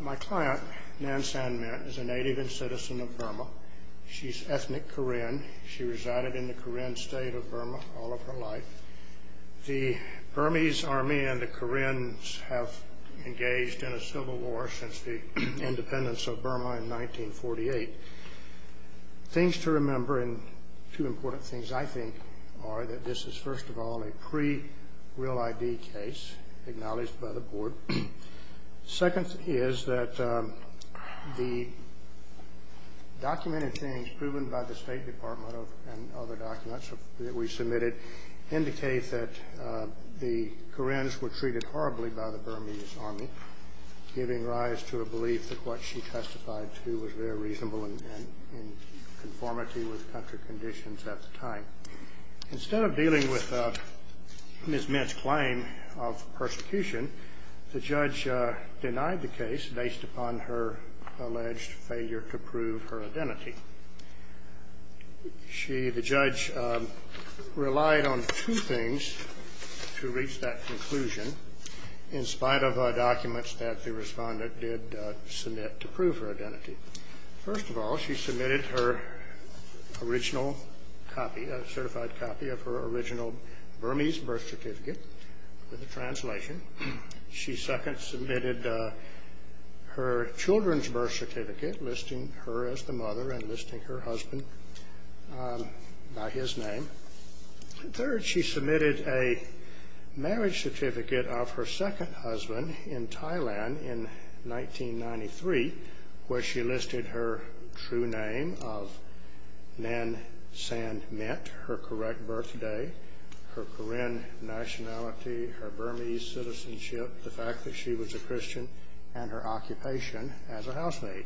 My client, Nan San Myint, is a native and citizen of Burma. She's ethnic Karen. She resided in the Karen State of Burma all of her life. The Burmese Army and the Karens have engaged in a civil war since the independence of Burma in 1948. Things to remember, and two important things I think, are that this is first of all a pre-real ID case acknowledged by the Board. Second is that the documented things proven by the State Department and other documents that we submitted indicate that the Karens were treated horribly by the Burmese Army, giving rise to a belief that what she testified to was very reasonable in conformity with country conditions at the time. Instead of dealing with Ms. Myint's claim of persecution, the judge denied the case based upon her alleged failure to prove her identity. The judge relied on two things to reach that conclusion, in spite of documents that the respondent did submit to prove her identity. First of all, she submitted her certified copy of her original Burmese birth certificate with a translation. She second submitted her children's birth certificate, listing her as the mother and listing her husband by his name. Third, she submitted a marriage certificate of her second husband in Thailand in 1993, where she listed her true name of Nan San Myint, her correct birthday, her Karen nationality, her Burmese citizenship, the fact that she was a Christian, and her occupation as a housemaid.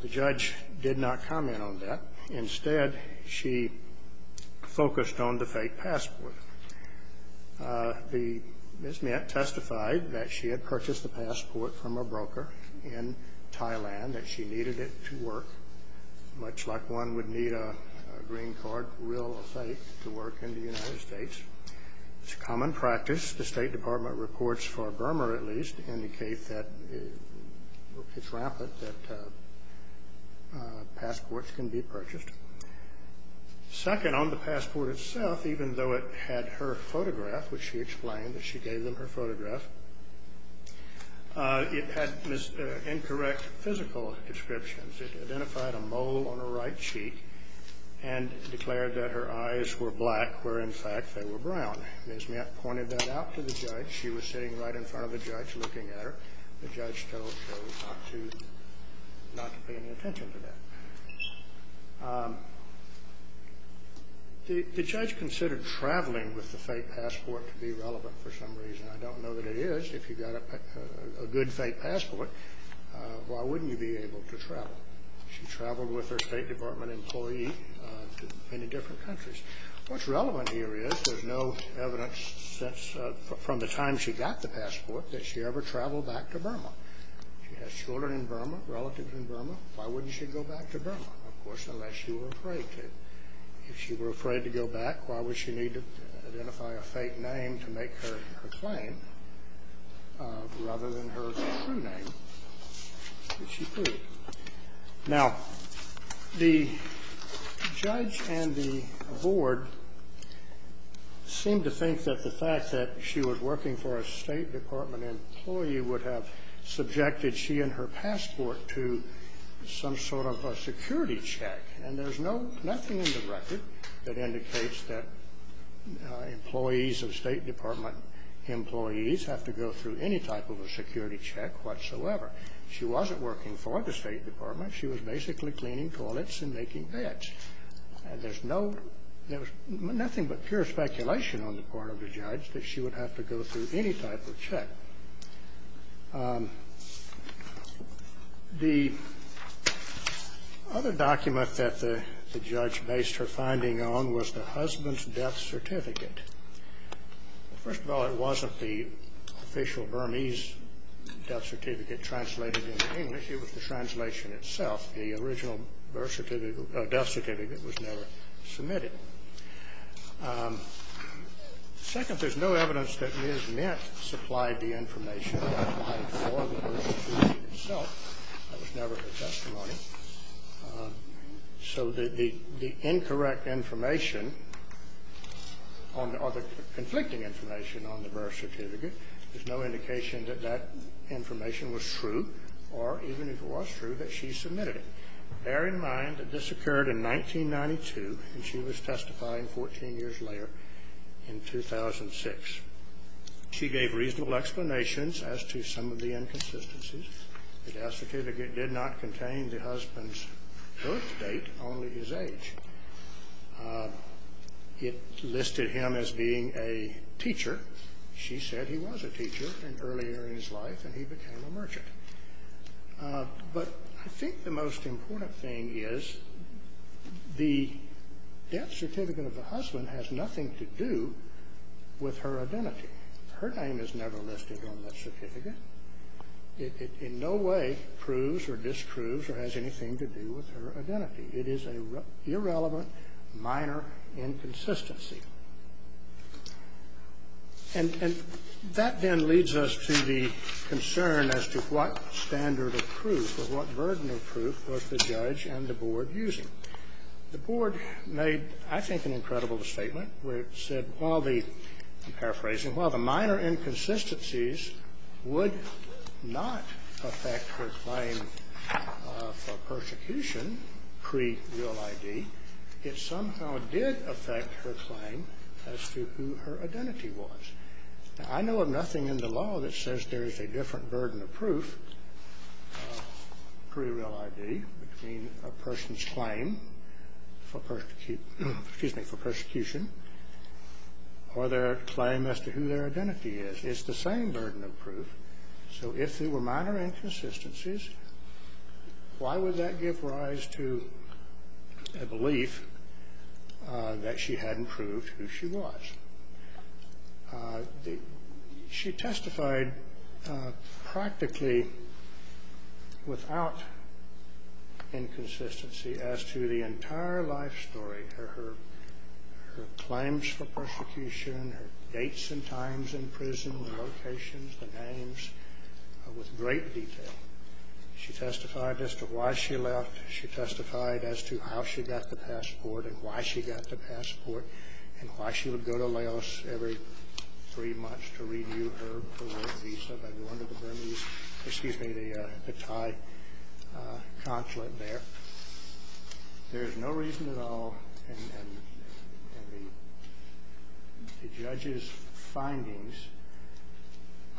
The judge did not comment on that. Instead, she focused on the fake passport. Ms. Myint testified that she had purchased the passport from a broker in Thailand, that she needed it to work, much like one would need a green card real estate to work in the United States. It's a common practice. The State Department reports, for Burma at least, indicate that it's rampant that passports can be purchased. Second, on the passport itself, even though it had her photograph, which she explained that she gave them her photograph, it had incorrect physical descriptions. It identified a mole on her right cheek and declared that her eyes were black, where in fact they were brown. Ms. Myint pointed that out to the judge. She was sitting right in front of the judge looking at her. The judge told her not to pay any attention to that. The judge considered traveling with the fake passport to be relevant for some reason. I don't know that it is. If you've got a good fake passport, why wouldn't you be able to travel? She traveled with her State Department employee to many different countries. What's relevant here is there's no evidence from the time she got the passport that she ever traveled back to Burma. She has children in Burma, relatives in Burma. Why wouldn't she go back to Burma? Of course, unless she were afraid to. If she were afraid to go back, why would she need to identify a fake name to make her claim, rather than her true name that she proved? Now, the judge and the board seemed to think that the fact that she was working for a State Department employee would have subjected she and her passport to some sort of a security check. And there's nothing in the record that indicates that employees of State Department employees have to go through any type of a security check whatsoever. She wasn't working for the State Department. She was basically cleaning toilets and making beds. And there's nothing but pure speculation on the part of the judge that she would have to go through any type of check. The other document that the judge based her finding on was the husband's death certificate. First of all, it wasn't the official Burmese death certificate translated into English. It was the translation itself. The original death certificate was never submitted. Second, there's no evidence that Ms. Mint supplied the information that applied for the death certificate itself. That was never her testimony. So the incorrect information or the conflicting information on the birth certificate, there's no indication that that information was true, or even if it was true, that she submitted it. Bear in mind that this occurred in 1992, and she was testifying 14 years later in 2006. She gave reasonable explanations as to some of the inconsistencies. The death certificate did not contain the husband's birth date, only his age. It listed him as being a teacher. She said he was a teacher earlier in his life, and he became a merchant. But I think the most important thing is the death certificate of the husband has nothing to do with her identity. Her name is never listed on that certificate. It in no way proves or disproves or has anything to do with her identity. It is an irrelevant minor inconsistency. And that then leads us to the concern as to what standard of proof or what burden of proof was the judge and the board using. The board made, I think, an incredible statement where it said, well, the, I'm paraphrasing, well, the minor inconsistencies would not affect her claim for persecution pre-real ID. It somehow did affect her claim as to who her identity was. Now, I know of nothing in the law that says there is a different burden of proof pre-real ID between a person's claim for persecution or their claim as to who their identity is. It's the same burden of proof. So if there were minor inconsistencies, why would that give rise to a belief that she hadn't proved who she was? She testified practically without inconsistency as to the entire life story, her claims for persecution, her dates and times in prison, the locations, the names, with great detail. She testified as to why she left. She testified as to how she got the passport and why she got the passport and why she would go to Laos every three months to review her parole visa by going to the Burmese, excuse me, the Thai consulate there. There is no reason at all in the judge's findings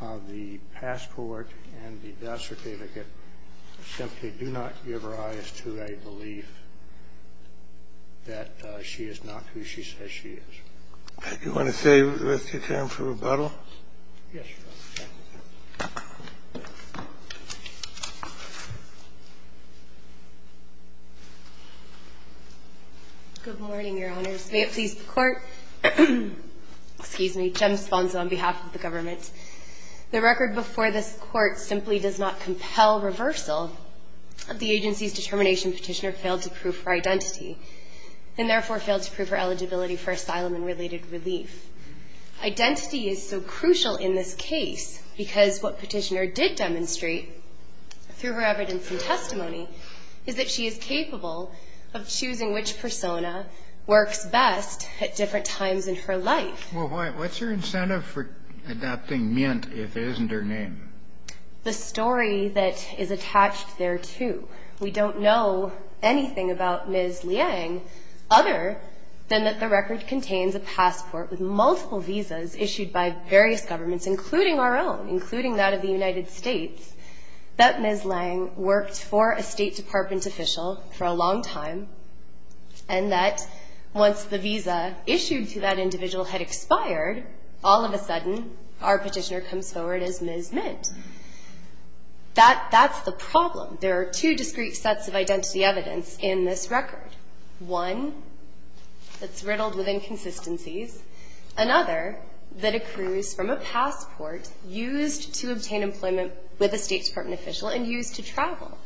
of the passport and the death certificate simply do not give rise to a belief that she is not who she says she is. Do you want to save the rest of your time for rebuttal? Yes, Your Honor. Thank you. Good morning, Your Honors. May it please the Court. Excuse me. Jem Sponza on behalf of the government. The record before this Court simply does not compel reversal of the agency's determination Petitioner failed to prove her identity and therefore failed to prove her eligibility for asylum and related relief. Identity is so crucial in this case because what Petitioner did demonstrate through her evidence and testimony is that she is capable of choosing which persona works best at different times in her life. Well, what's your incentive for adopting Myint if it isn't her name? The story that is attached there, too. We don't know anything about Ms. Liang other than that the record contains a passport with multiple visas issued by various governments, including our own, including that of the United States, that Ms. Liang worked for a State Department official for a long time, and that once the visa issued to that individual had expired, all of a sudden our Petitioner comes forward as Ms. Myint. That's the problem. There are two discrete sets of identity evidence in this record, one that's riddled with inconsistencies, another that accrues from a passport used to obtain employment with a State Department official and used to travel.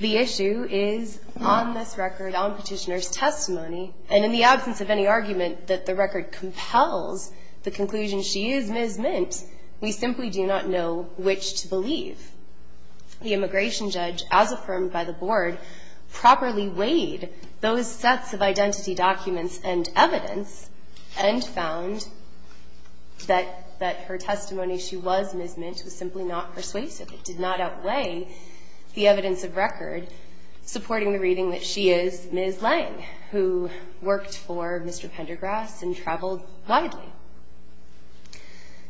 The issue is on this record, on Petitioner's testimony, and in the absence of any argument that the record compels the conclusion she is Ms. Myint, we simply do not know which to believe. The immigration judge, as affirmed by the Board, properly weighed those sets of identity documents and evidence and found that her testimony she was Ms. Myint was simply not persuasive. It did not outweigh the evidence of record supporting the reading that she is Ms. Liang, who worked for Mr. Pendergrass and traveled widely.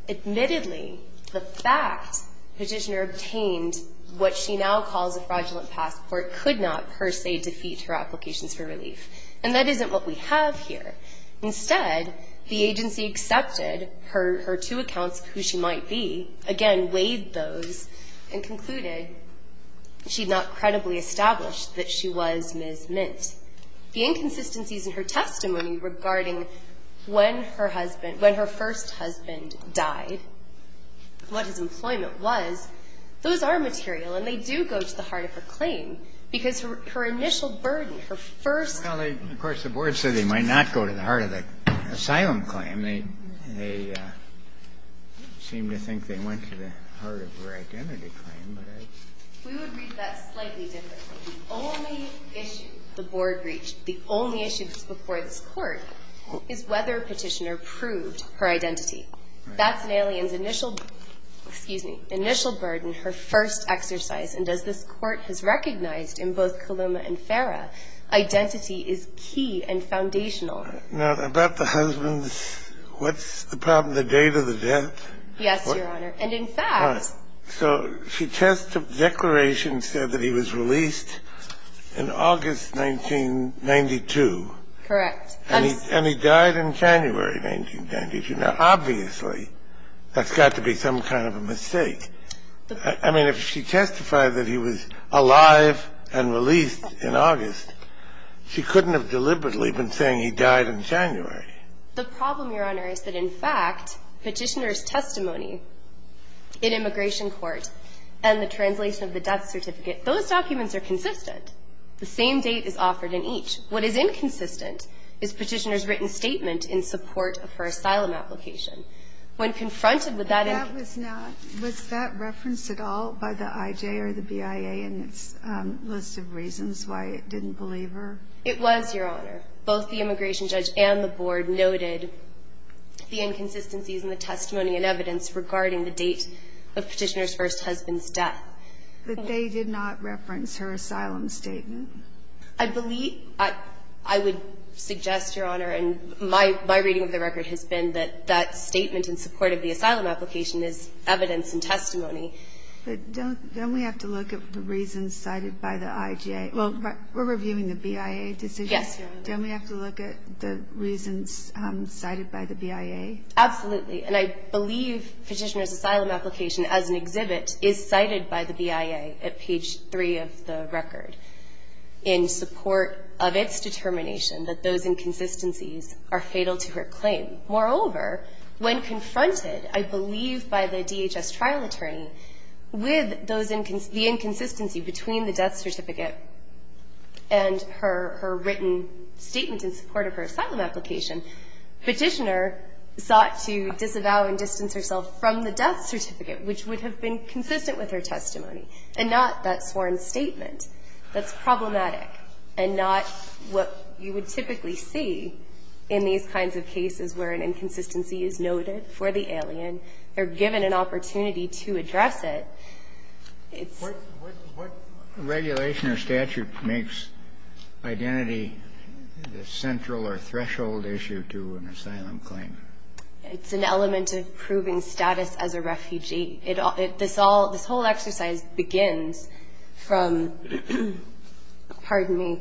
Admittedly, the fact Petitioner obtained what she now calls a fraudulent passport could not per se defeat her applications for relief, and that isn't what we have here. Instead, the agency accepted her two accounts, who she might be, again weighed those documents and concluded she had not credibly established that she was Ms. Myint. The inconsistencies in her testimony regarding when her husband, when her first husband died, what his employment was, those are material, and they do go to the heart of her claim, because her initial burden, her first ---- Well, of course, the Board said they might not go to the heart of the asylum claim. They seem to think they went to the heart of her identity claim. We would read that slightly differently. The only issue the Board reached, the only issue before this Court, is whether Petitioner proved her identity. That's an alien's initial burden, her first exercise, and as this Court has recognized in both Coloma and Farah, identity is key and foundational. Now, about the husband, what's the problem? The date of the death? Yes, Your Honor. And in fact ---- All right. So she testifed the declaration said that he was released in August 1992. Correct. And he died in January 1992. Now, obviously, that's got to be some kind of a mistake. I mean, if she testified that he was alive and released in August, she couldn't have deliberately been saying he died in January. The problem, Your Honor, is that, in fact, Petitioner's testimony in immigration court and the translation of the death certificate, those documents are consistent. The same date is offered in each. What is inconsistent is Petitioner's written statement in support of her asylum application. When confronted with that ---- But that was not ---- was that referenced at all by the IJ or the BIA in its list of reasons why it didn't believe her? It was, Your Honor. Both the immigration judge and the board noted the inconsistencies in the testimony and evidence regarding the date of Petitioner's first husband's death. But they did not reference her asylum statement? I believe ---- I would suggest, Your Honor, and my reading of the record has been that that statement in support of the asylum application is evidence and testimony. But don't we have to look at the reasons cited by the IJ? Well, we're reviewing the BIA decision. Yes. Don't we have to look at the reasons cited by the BIA? Absolutely. And I believe Petitioner's asylum application as an exhibit is cited by the BIA at page 3 of the record in support of its determination that those inconsistencies are fatal to her claim. Moreover, when confronted, I believe by the DHS trial attorney, with those ---- the inconsistency between the death certificate and her written statement in support of her asylum application, Petitioner sought to disavow and distance herself from the death certificate, which would have been consistent with her testimony and not that sworn statement. That's problematic and not what you would typically see in these kinds of cases where an inconsistency is noted for the alien. They're given an opportunity to address it. It's ---- What regulation or statute makes identity the central or threshold issue to an asylum claim? It's an element of proving status as a refugee. This all ---- this whole exercise begins from, pardon me,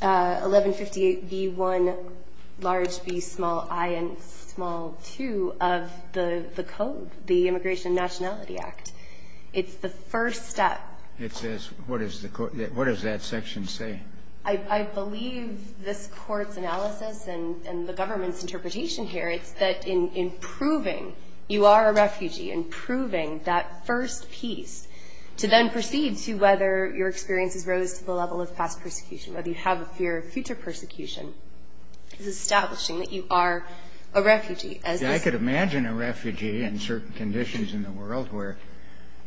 1158B1, large B, small I, and small II of the code, the Immigration and Nationality Act. It's the first step. It says what is the ---- what does that section say? I believe this Court's analysis and the government's interpretation here, it's that in proving you are a refugee, in proving that first piece, to then proceed to whether your experiences rose to the level of past persecution, whether you have a fear of future persecution, is establishing that you are a refugee as this ---- And you could imagine a refugee in certain conditions in the world where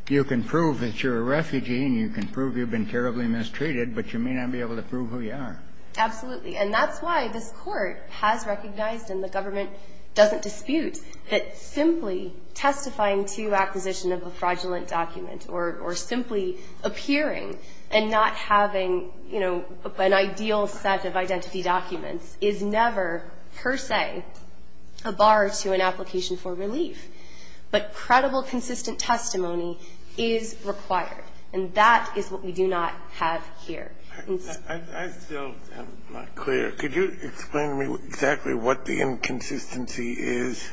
you can prove that you're a refugee and you can prove you've been terribly mistreated, but you may not be able to prove who you are. Absolutely. And that's why this Court has recognized and the government doesn't dispute that simply testifying to acquisition of a fraudulent document or simply appearing and not having, you know, an ideal set of identity documents is never, per se, a bar to an application for relief. But credible, consistent testimony is required. And that is what we do not have here. I still am not clear. Could you explain to me exactly what the inconsistency is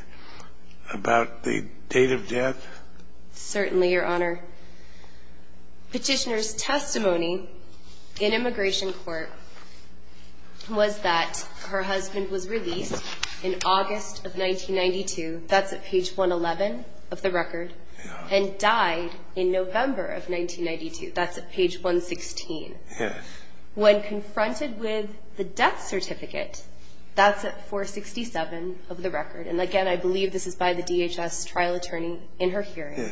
about the date of death? Certainly, Your Honor. Petitioner's testimony in immigration court was that her husband was released in August of 1992. That's at page 111 of the record. And died in November of 1992. That's at page 116. Yes. When confronted with the death certificate, that's at 467 of the record. And, again, I believe this is by the DHS trial attorney in her hearing.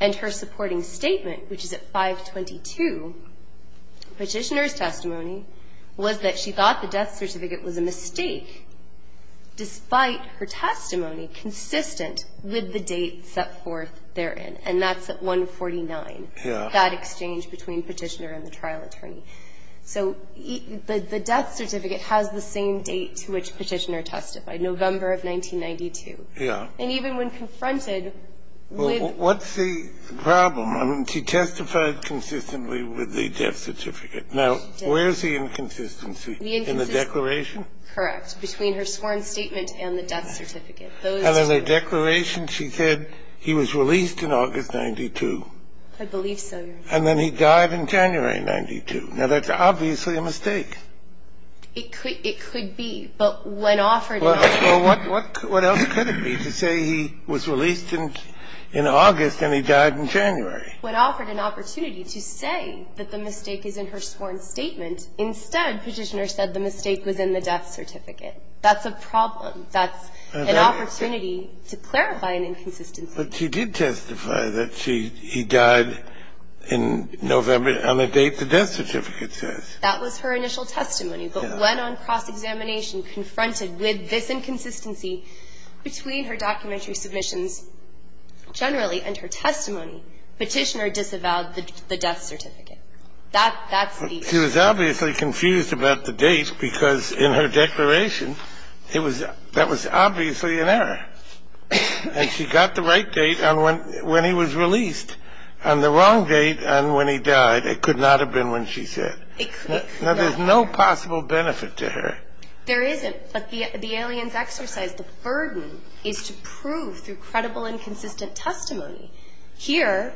And her supporting statement, which is at 522, petitioner's testimony, was that she thought the death certificate was a mistake, despite her testimony consistent with the date set forth therein. And that's at 149. Yeah. That exchange between Petitioner and the trial attorney. So the death certificate has the same date to which Petitioner testified, November Yeah. And even when confronted with the death certificate. Well, what's the problem? I mean, she testified consistently with the death certificate. Now, where's the inconsistency? The inconsistency. In the declaration? Correct. Between her sworn statement and the death certificate. Those two. And in her declaration, she said he was released in August of 1992. I believe so, Your Honor. And then he died in January of 1992. Now, that's obviously a mistake. It could be. But when offered an opportunity. Well, what else could it be to say he was released in August and he died in January? When offered an opportunity to say that the mistake is in her sworn statement, instead Petitioner said the mistake was in the death certificate. That's a problem. That's an opportunity to clarify an inconsistency. But she did testify that he died in November on a date the death certificate says. That was her initial testimony. But when on cross-examination confronted with this inconsistency between her documentary submissions generally and her testimony, Petitioner disavowed the death certificate. That's the issue. She was obviously confused about the date because in her declaration, that was obviously an error. And she got the right date on when he was released. On the wrong date on when he died, it could not have been when she said. Now, there's no possible benefit to her. There isn't. But the alien's exercise, the burden, is to prove through credible and consistent testimony. Here,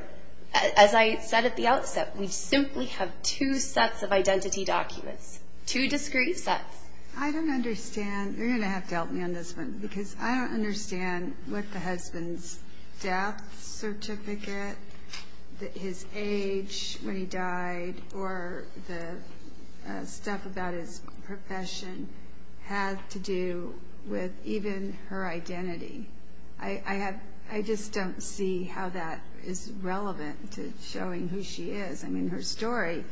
as I said at the outset, we simply have two sets of identity documents, two discrete sets. I don't understand. You're going to have to help me on this one because I don't understand what the husband's death certificate, his age when he died, or the stuff about his profession had to do with even her identity. I just don't see how that is relevant to showing who she is. I mean, her story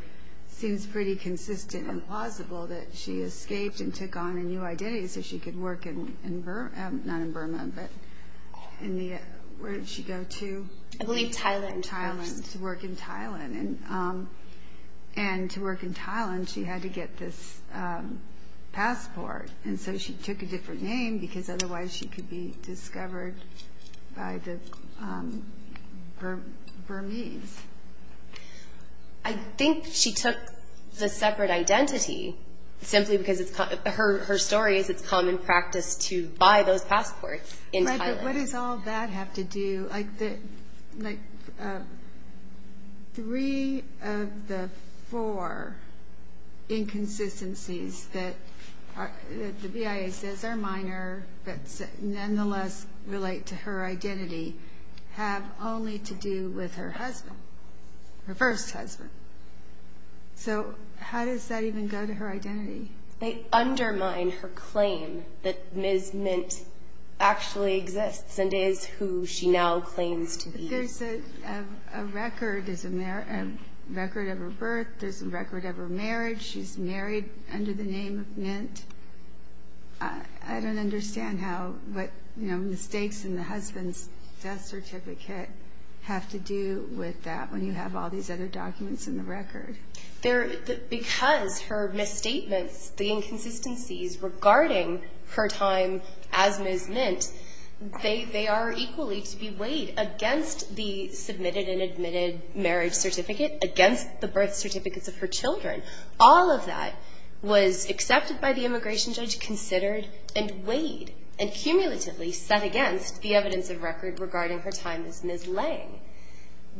seems pretty consistent and plausible that she escaped and took on a new identity so she could work in Burma. Not in Burma, but where did she go to? I believe Thailand. Thailand, to work in Thailand. And to work in Thailand, she had to get this passport. And so she took a different name because otherwise she could be discovered by the Burmese. I think she took the separate identity simply because her story is it's common practice to buy those passports in Thailand. What does all that have to do? Three of the four inconsistencies that the BIA says are minor but nonetheless relate to her identity have only to do with her husband, her first husband. So how does that even go to her identity? They undermine her claim that Ms. Mint actually exists and is who she now claims to be. There's a record of her birth. There's a record of her marriage. She's married under the name of Mint. I don't understand how mistakes in the husband's death certificate have to do with that when you have all these other documents in the record. Because her misstatements, the inconsistencies regarding her time as Ms. Mint, they are equally to be weighed against the submitted and admitted marriage certificate, against the birth certificates of her children. All of that was accepted by the immigration judge, considered, and weighed and cumulatively set against the evidence of record regarding her time as Ms. Lange.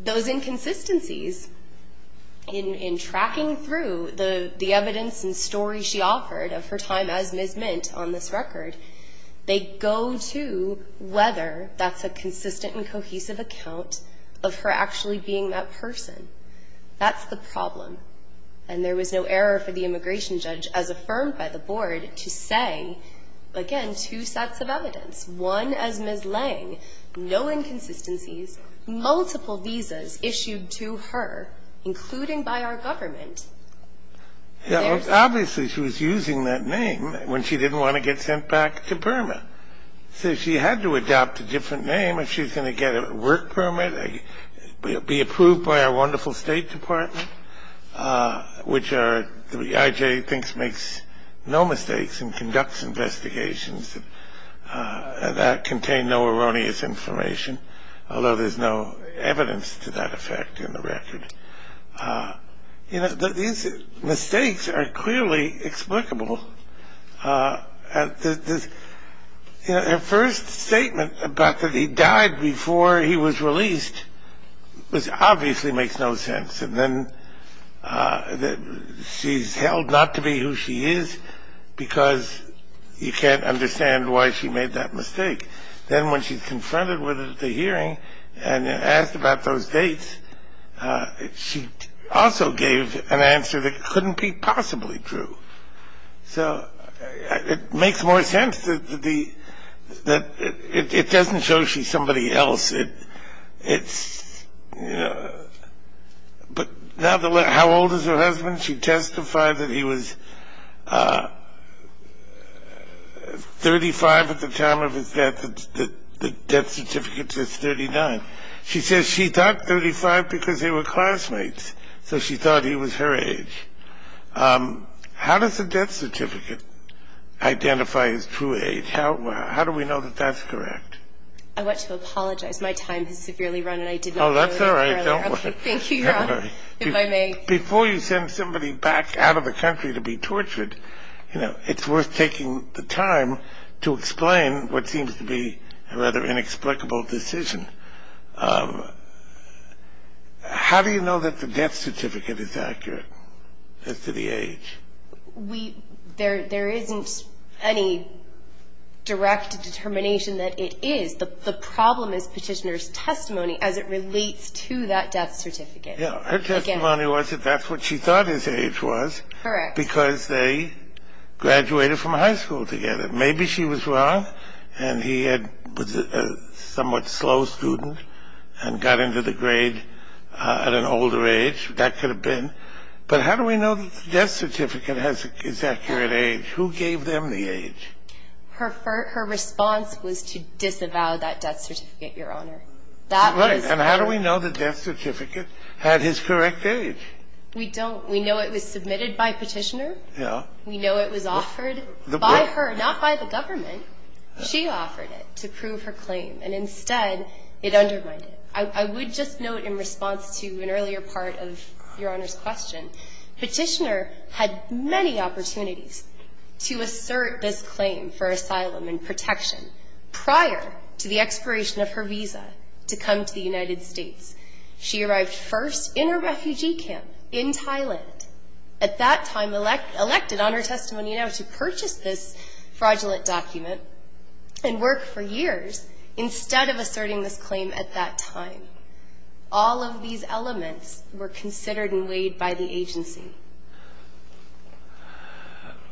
Those inconsistencies in tracking through the evidence and stories she offered of her time as Ms. Mint on this record, they go to whether that's a consistent and cohesive account of her actually being that person. That's the problem. And there was no error for the immigration judge, as affirmed by the board, to say, again, two sets of evidence, one as Ms. Lange, no inconsistencies, multiple visas issued to her, including by our government. Obviously, she was using that name when she didn't want to get sent back to Burma. So she had to adopt a different name. If she's going to get a work permit, be approved by our wonderful State Department, which the IJ thinks makes no mistakes and conducts investigations that contain no erroneous information, although there's no evidence to that effect in the record. These mistakes are clearly explicable. Her first statement about that he died before he was released obviously makes no sense. And then she's held not to be who she is because you can't understand why she made that mistake. Then when she's confronted with it at the hearing and asked about those dates, she also gave an answer that couldn't be possibly true. So it makes more sense that it doesn't show she's somebody else. But how old is her husband? She testified that he was 35 at the time of his death. The death certificate says 39. She says she thought 35 because they were classmates, so she thought he was her age. How does the death certificate identify his true age? How do we know that that's correct? I want to apologize. My time has severely run, and I did not know this earlier. Oh, that's all right. Don't worry. Thank you, Your Honor, if I may. Before you send somebody back out of the country to be tortured, you know, it's worth taking the time to explain what seems to be a rather inexplicable decision. How do you know that the death certificate is accurate as to the age? There isn't any direct determination that it is. The problem is Petitioner's testimony as it relates to that death certificate. Yeah. Her testimony was that that's what she thought his age was. Correct. Because they graduated from high school together. Maybe she was wrong and he was a somewhat slow student and got into the grade at an older age. That could have been. But how do we know that the death certificate is accurate age? Who gave them the age? Her response was to disavow that death certificate, Your Honor. That was her. Right. And how do we know the death certificate had his correct age? We don't. We know it was submitted by Petitioner. Yeah. We know it was offered by her, not by the government. She offered it to prove her claim. And instead, it undermined it. I would just note in response to an earlier part of Your Honor's question, Petitioner had many opportunities to assert this claim for asylum and protection prior to the expiration of her visa to come to the United States. She arrived first in her refugee camp in Thailand, at that time elected on her testimony now to purchase this fraudulent document and work for years instead of asserting this claim at that time. All of these elements were considered and weighed by the agency.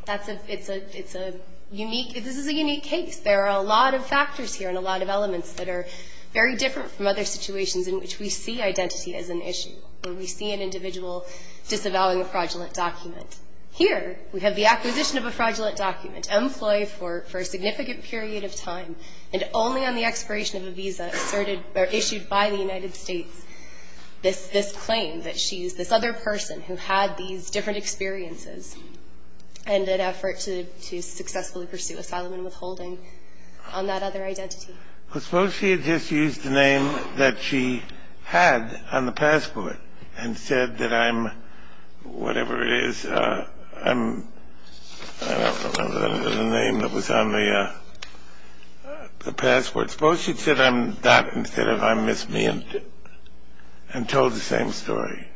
It's a unique case. There are a lot of factors here and a lot of elements that are very different from other situations in which we see identity as an issue, where we see an individual disavowing a fraudulent document. Here, we have the acquisition of a fraudulent document, employee for a significant period of time, and only on the expiration of a visa asserted or issued by the United States, this claim that she's this other person who had these different experiences and an effort to successfully pursue asylum and withholding on that other identity. Suppose she had just used the name that she had on the passport and said that I'm whatever it is, I'm, I don't remember the name that was on the passport. Suppose she'd said I'm that instead of I'm this, me, and told the same story.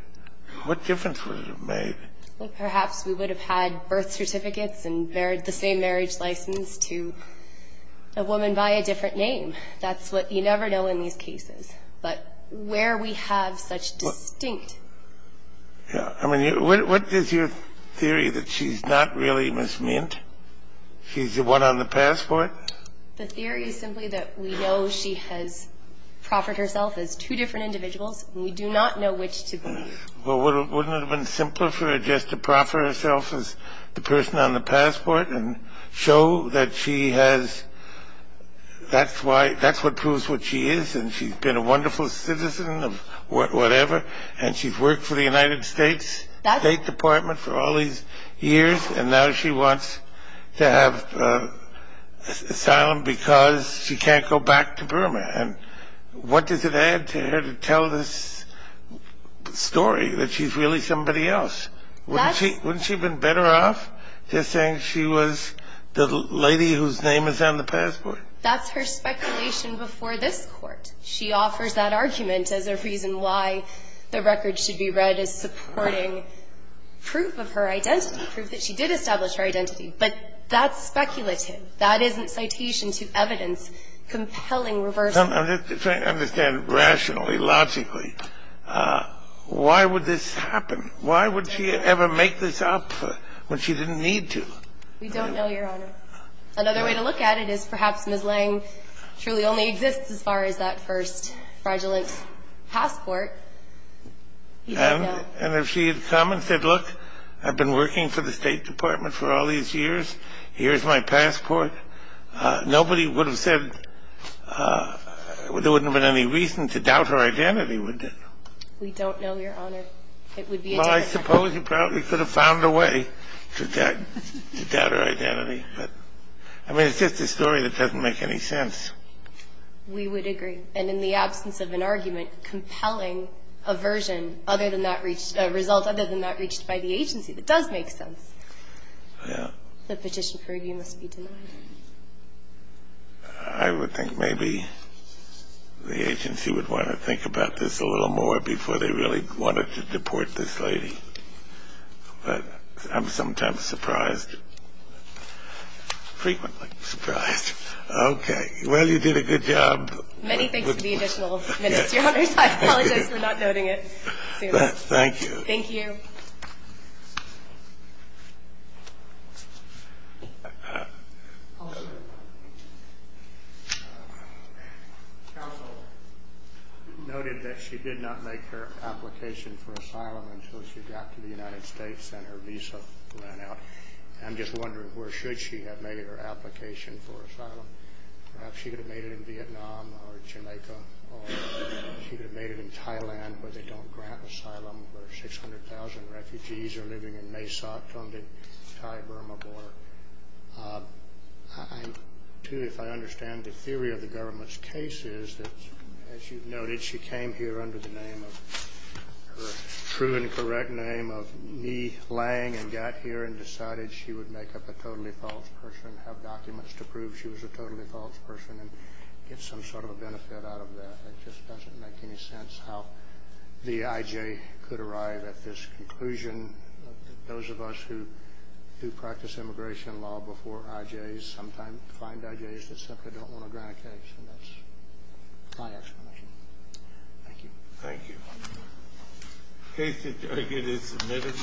What difference would it have made? Well, perhaps we would have had birth certificates and the same marriage license to a woman by a different name. That's what you never know in these cases. But where we have such distinct. I mean, what is your theory that she's not really Ms. Mint? She's the one on the passport? The theory is simply that we know she has proffered herself as two different individuals, and we do not know which to believe. Well, wouldn't it have been simpler for her just to proffer herself as the person on the passport and show that she has, that's why, that's what proves what she is, and she's been a wonderful citizen of whatever, and she's worked for the United States State Department for all these years, and now she wants to have asylum because she can't go back to Burma. And what does it add to her to tell this story that she's really somebody else? Wouldn't she have been better off just saying she was the lady whose name is on the passport? That's her speculation before this Court. She offers that argument as a reason why the record should be read as supporting proof of her identity, proof that she did establish her identity. But that's speculative. That isn't citation to evidence compelling reversal. I'm just trying to understand rationally, logically, why would this happen? Why would she ever make this up when she didn't need to? We don't know, Your Honor. Another way to look at it is perhaps Ms. Lange truly only exists as far as that first fraudulent passport. And if she had come and said, look, I've been working for the State Department for all these years, here's my passport, nobody would have said there wouldn't have been any reason to doubt her identity, would they? We don't know, Your Honor. It would be a different matter. I suppose you probably could have found a way to doubt her identity. But, I mean, it's just a story that doesn't make any sense. We would agree. And in the absence of an argument compelling aversion other than that result, other than that reached by the agency that does make sense, the petition for review must be denied. I would think maybe the agency would want to think about this a little more before they really wanted to deport this lady. But I'm sometimes surprised, frequently surprised. Okay. Well, you did a good job. Many thanks to the additional minutes, Your Honor. I apologize for not noting it. Thank you. Thank you. Counsel noted that she did not make her application for asylum until she got to the United States and her visa ran out. I'm just wondering where should she have made her application for asylum. Perhaps she could have made it in Vietnam or Jamaica or she could have made it in Thailand where they don't grant asylum where 600,000 refugees are living in MESOC-funded Thai Burma border. I, too, if I understand the theory of the government's case is that, as you've noted, she came here under the name of, her true and correct name of Nhi Lang and got here and decided she would make up a totally false person, have documents to prove she was a totally false person and get some sort of a benefit out of that. It just doesn't make any sense how the IJ could arrive at this conclusion. Those of us who practice immigration law before IJs sometimes find IJs that simply don't want to grant a case. And that's my explanation. Thank you. Thank you. The case is submitted.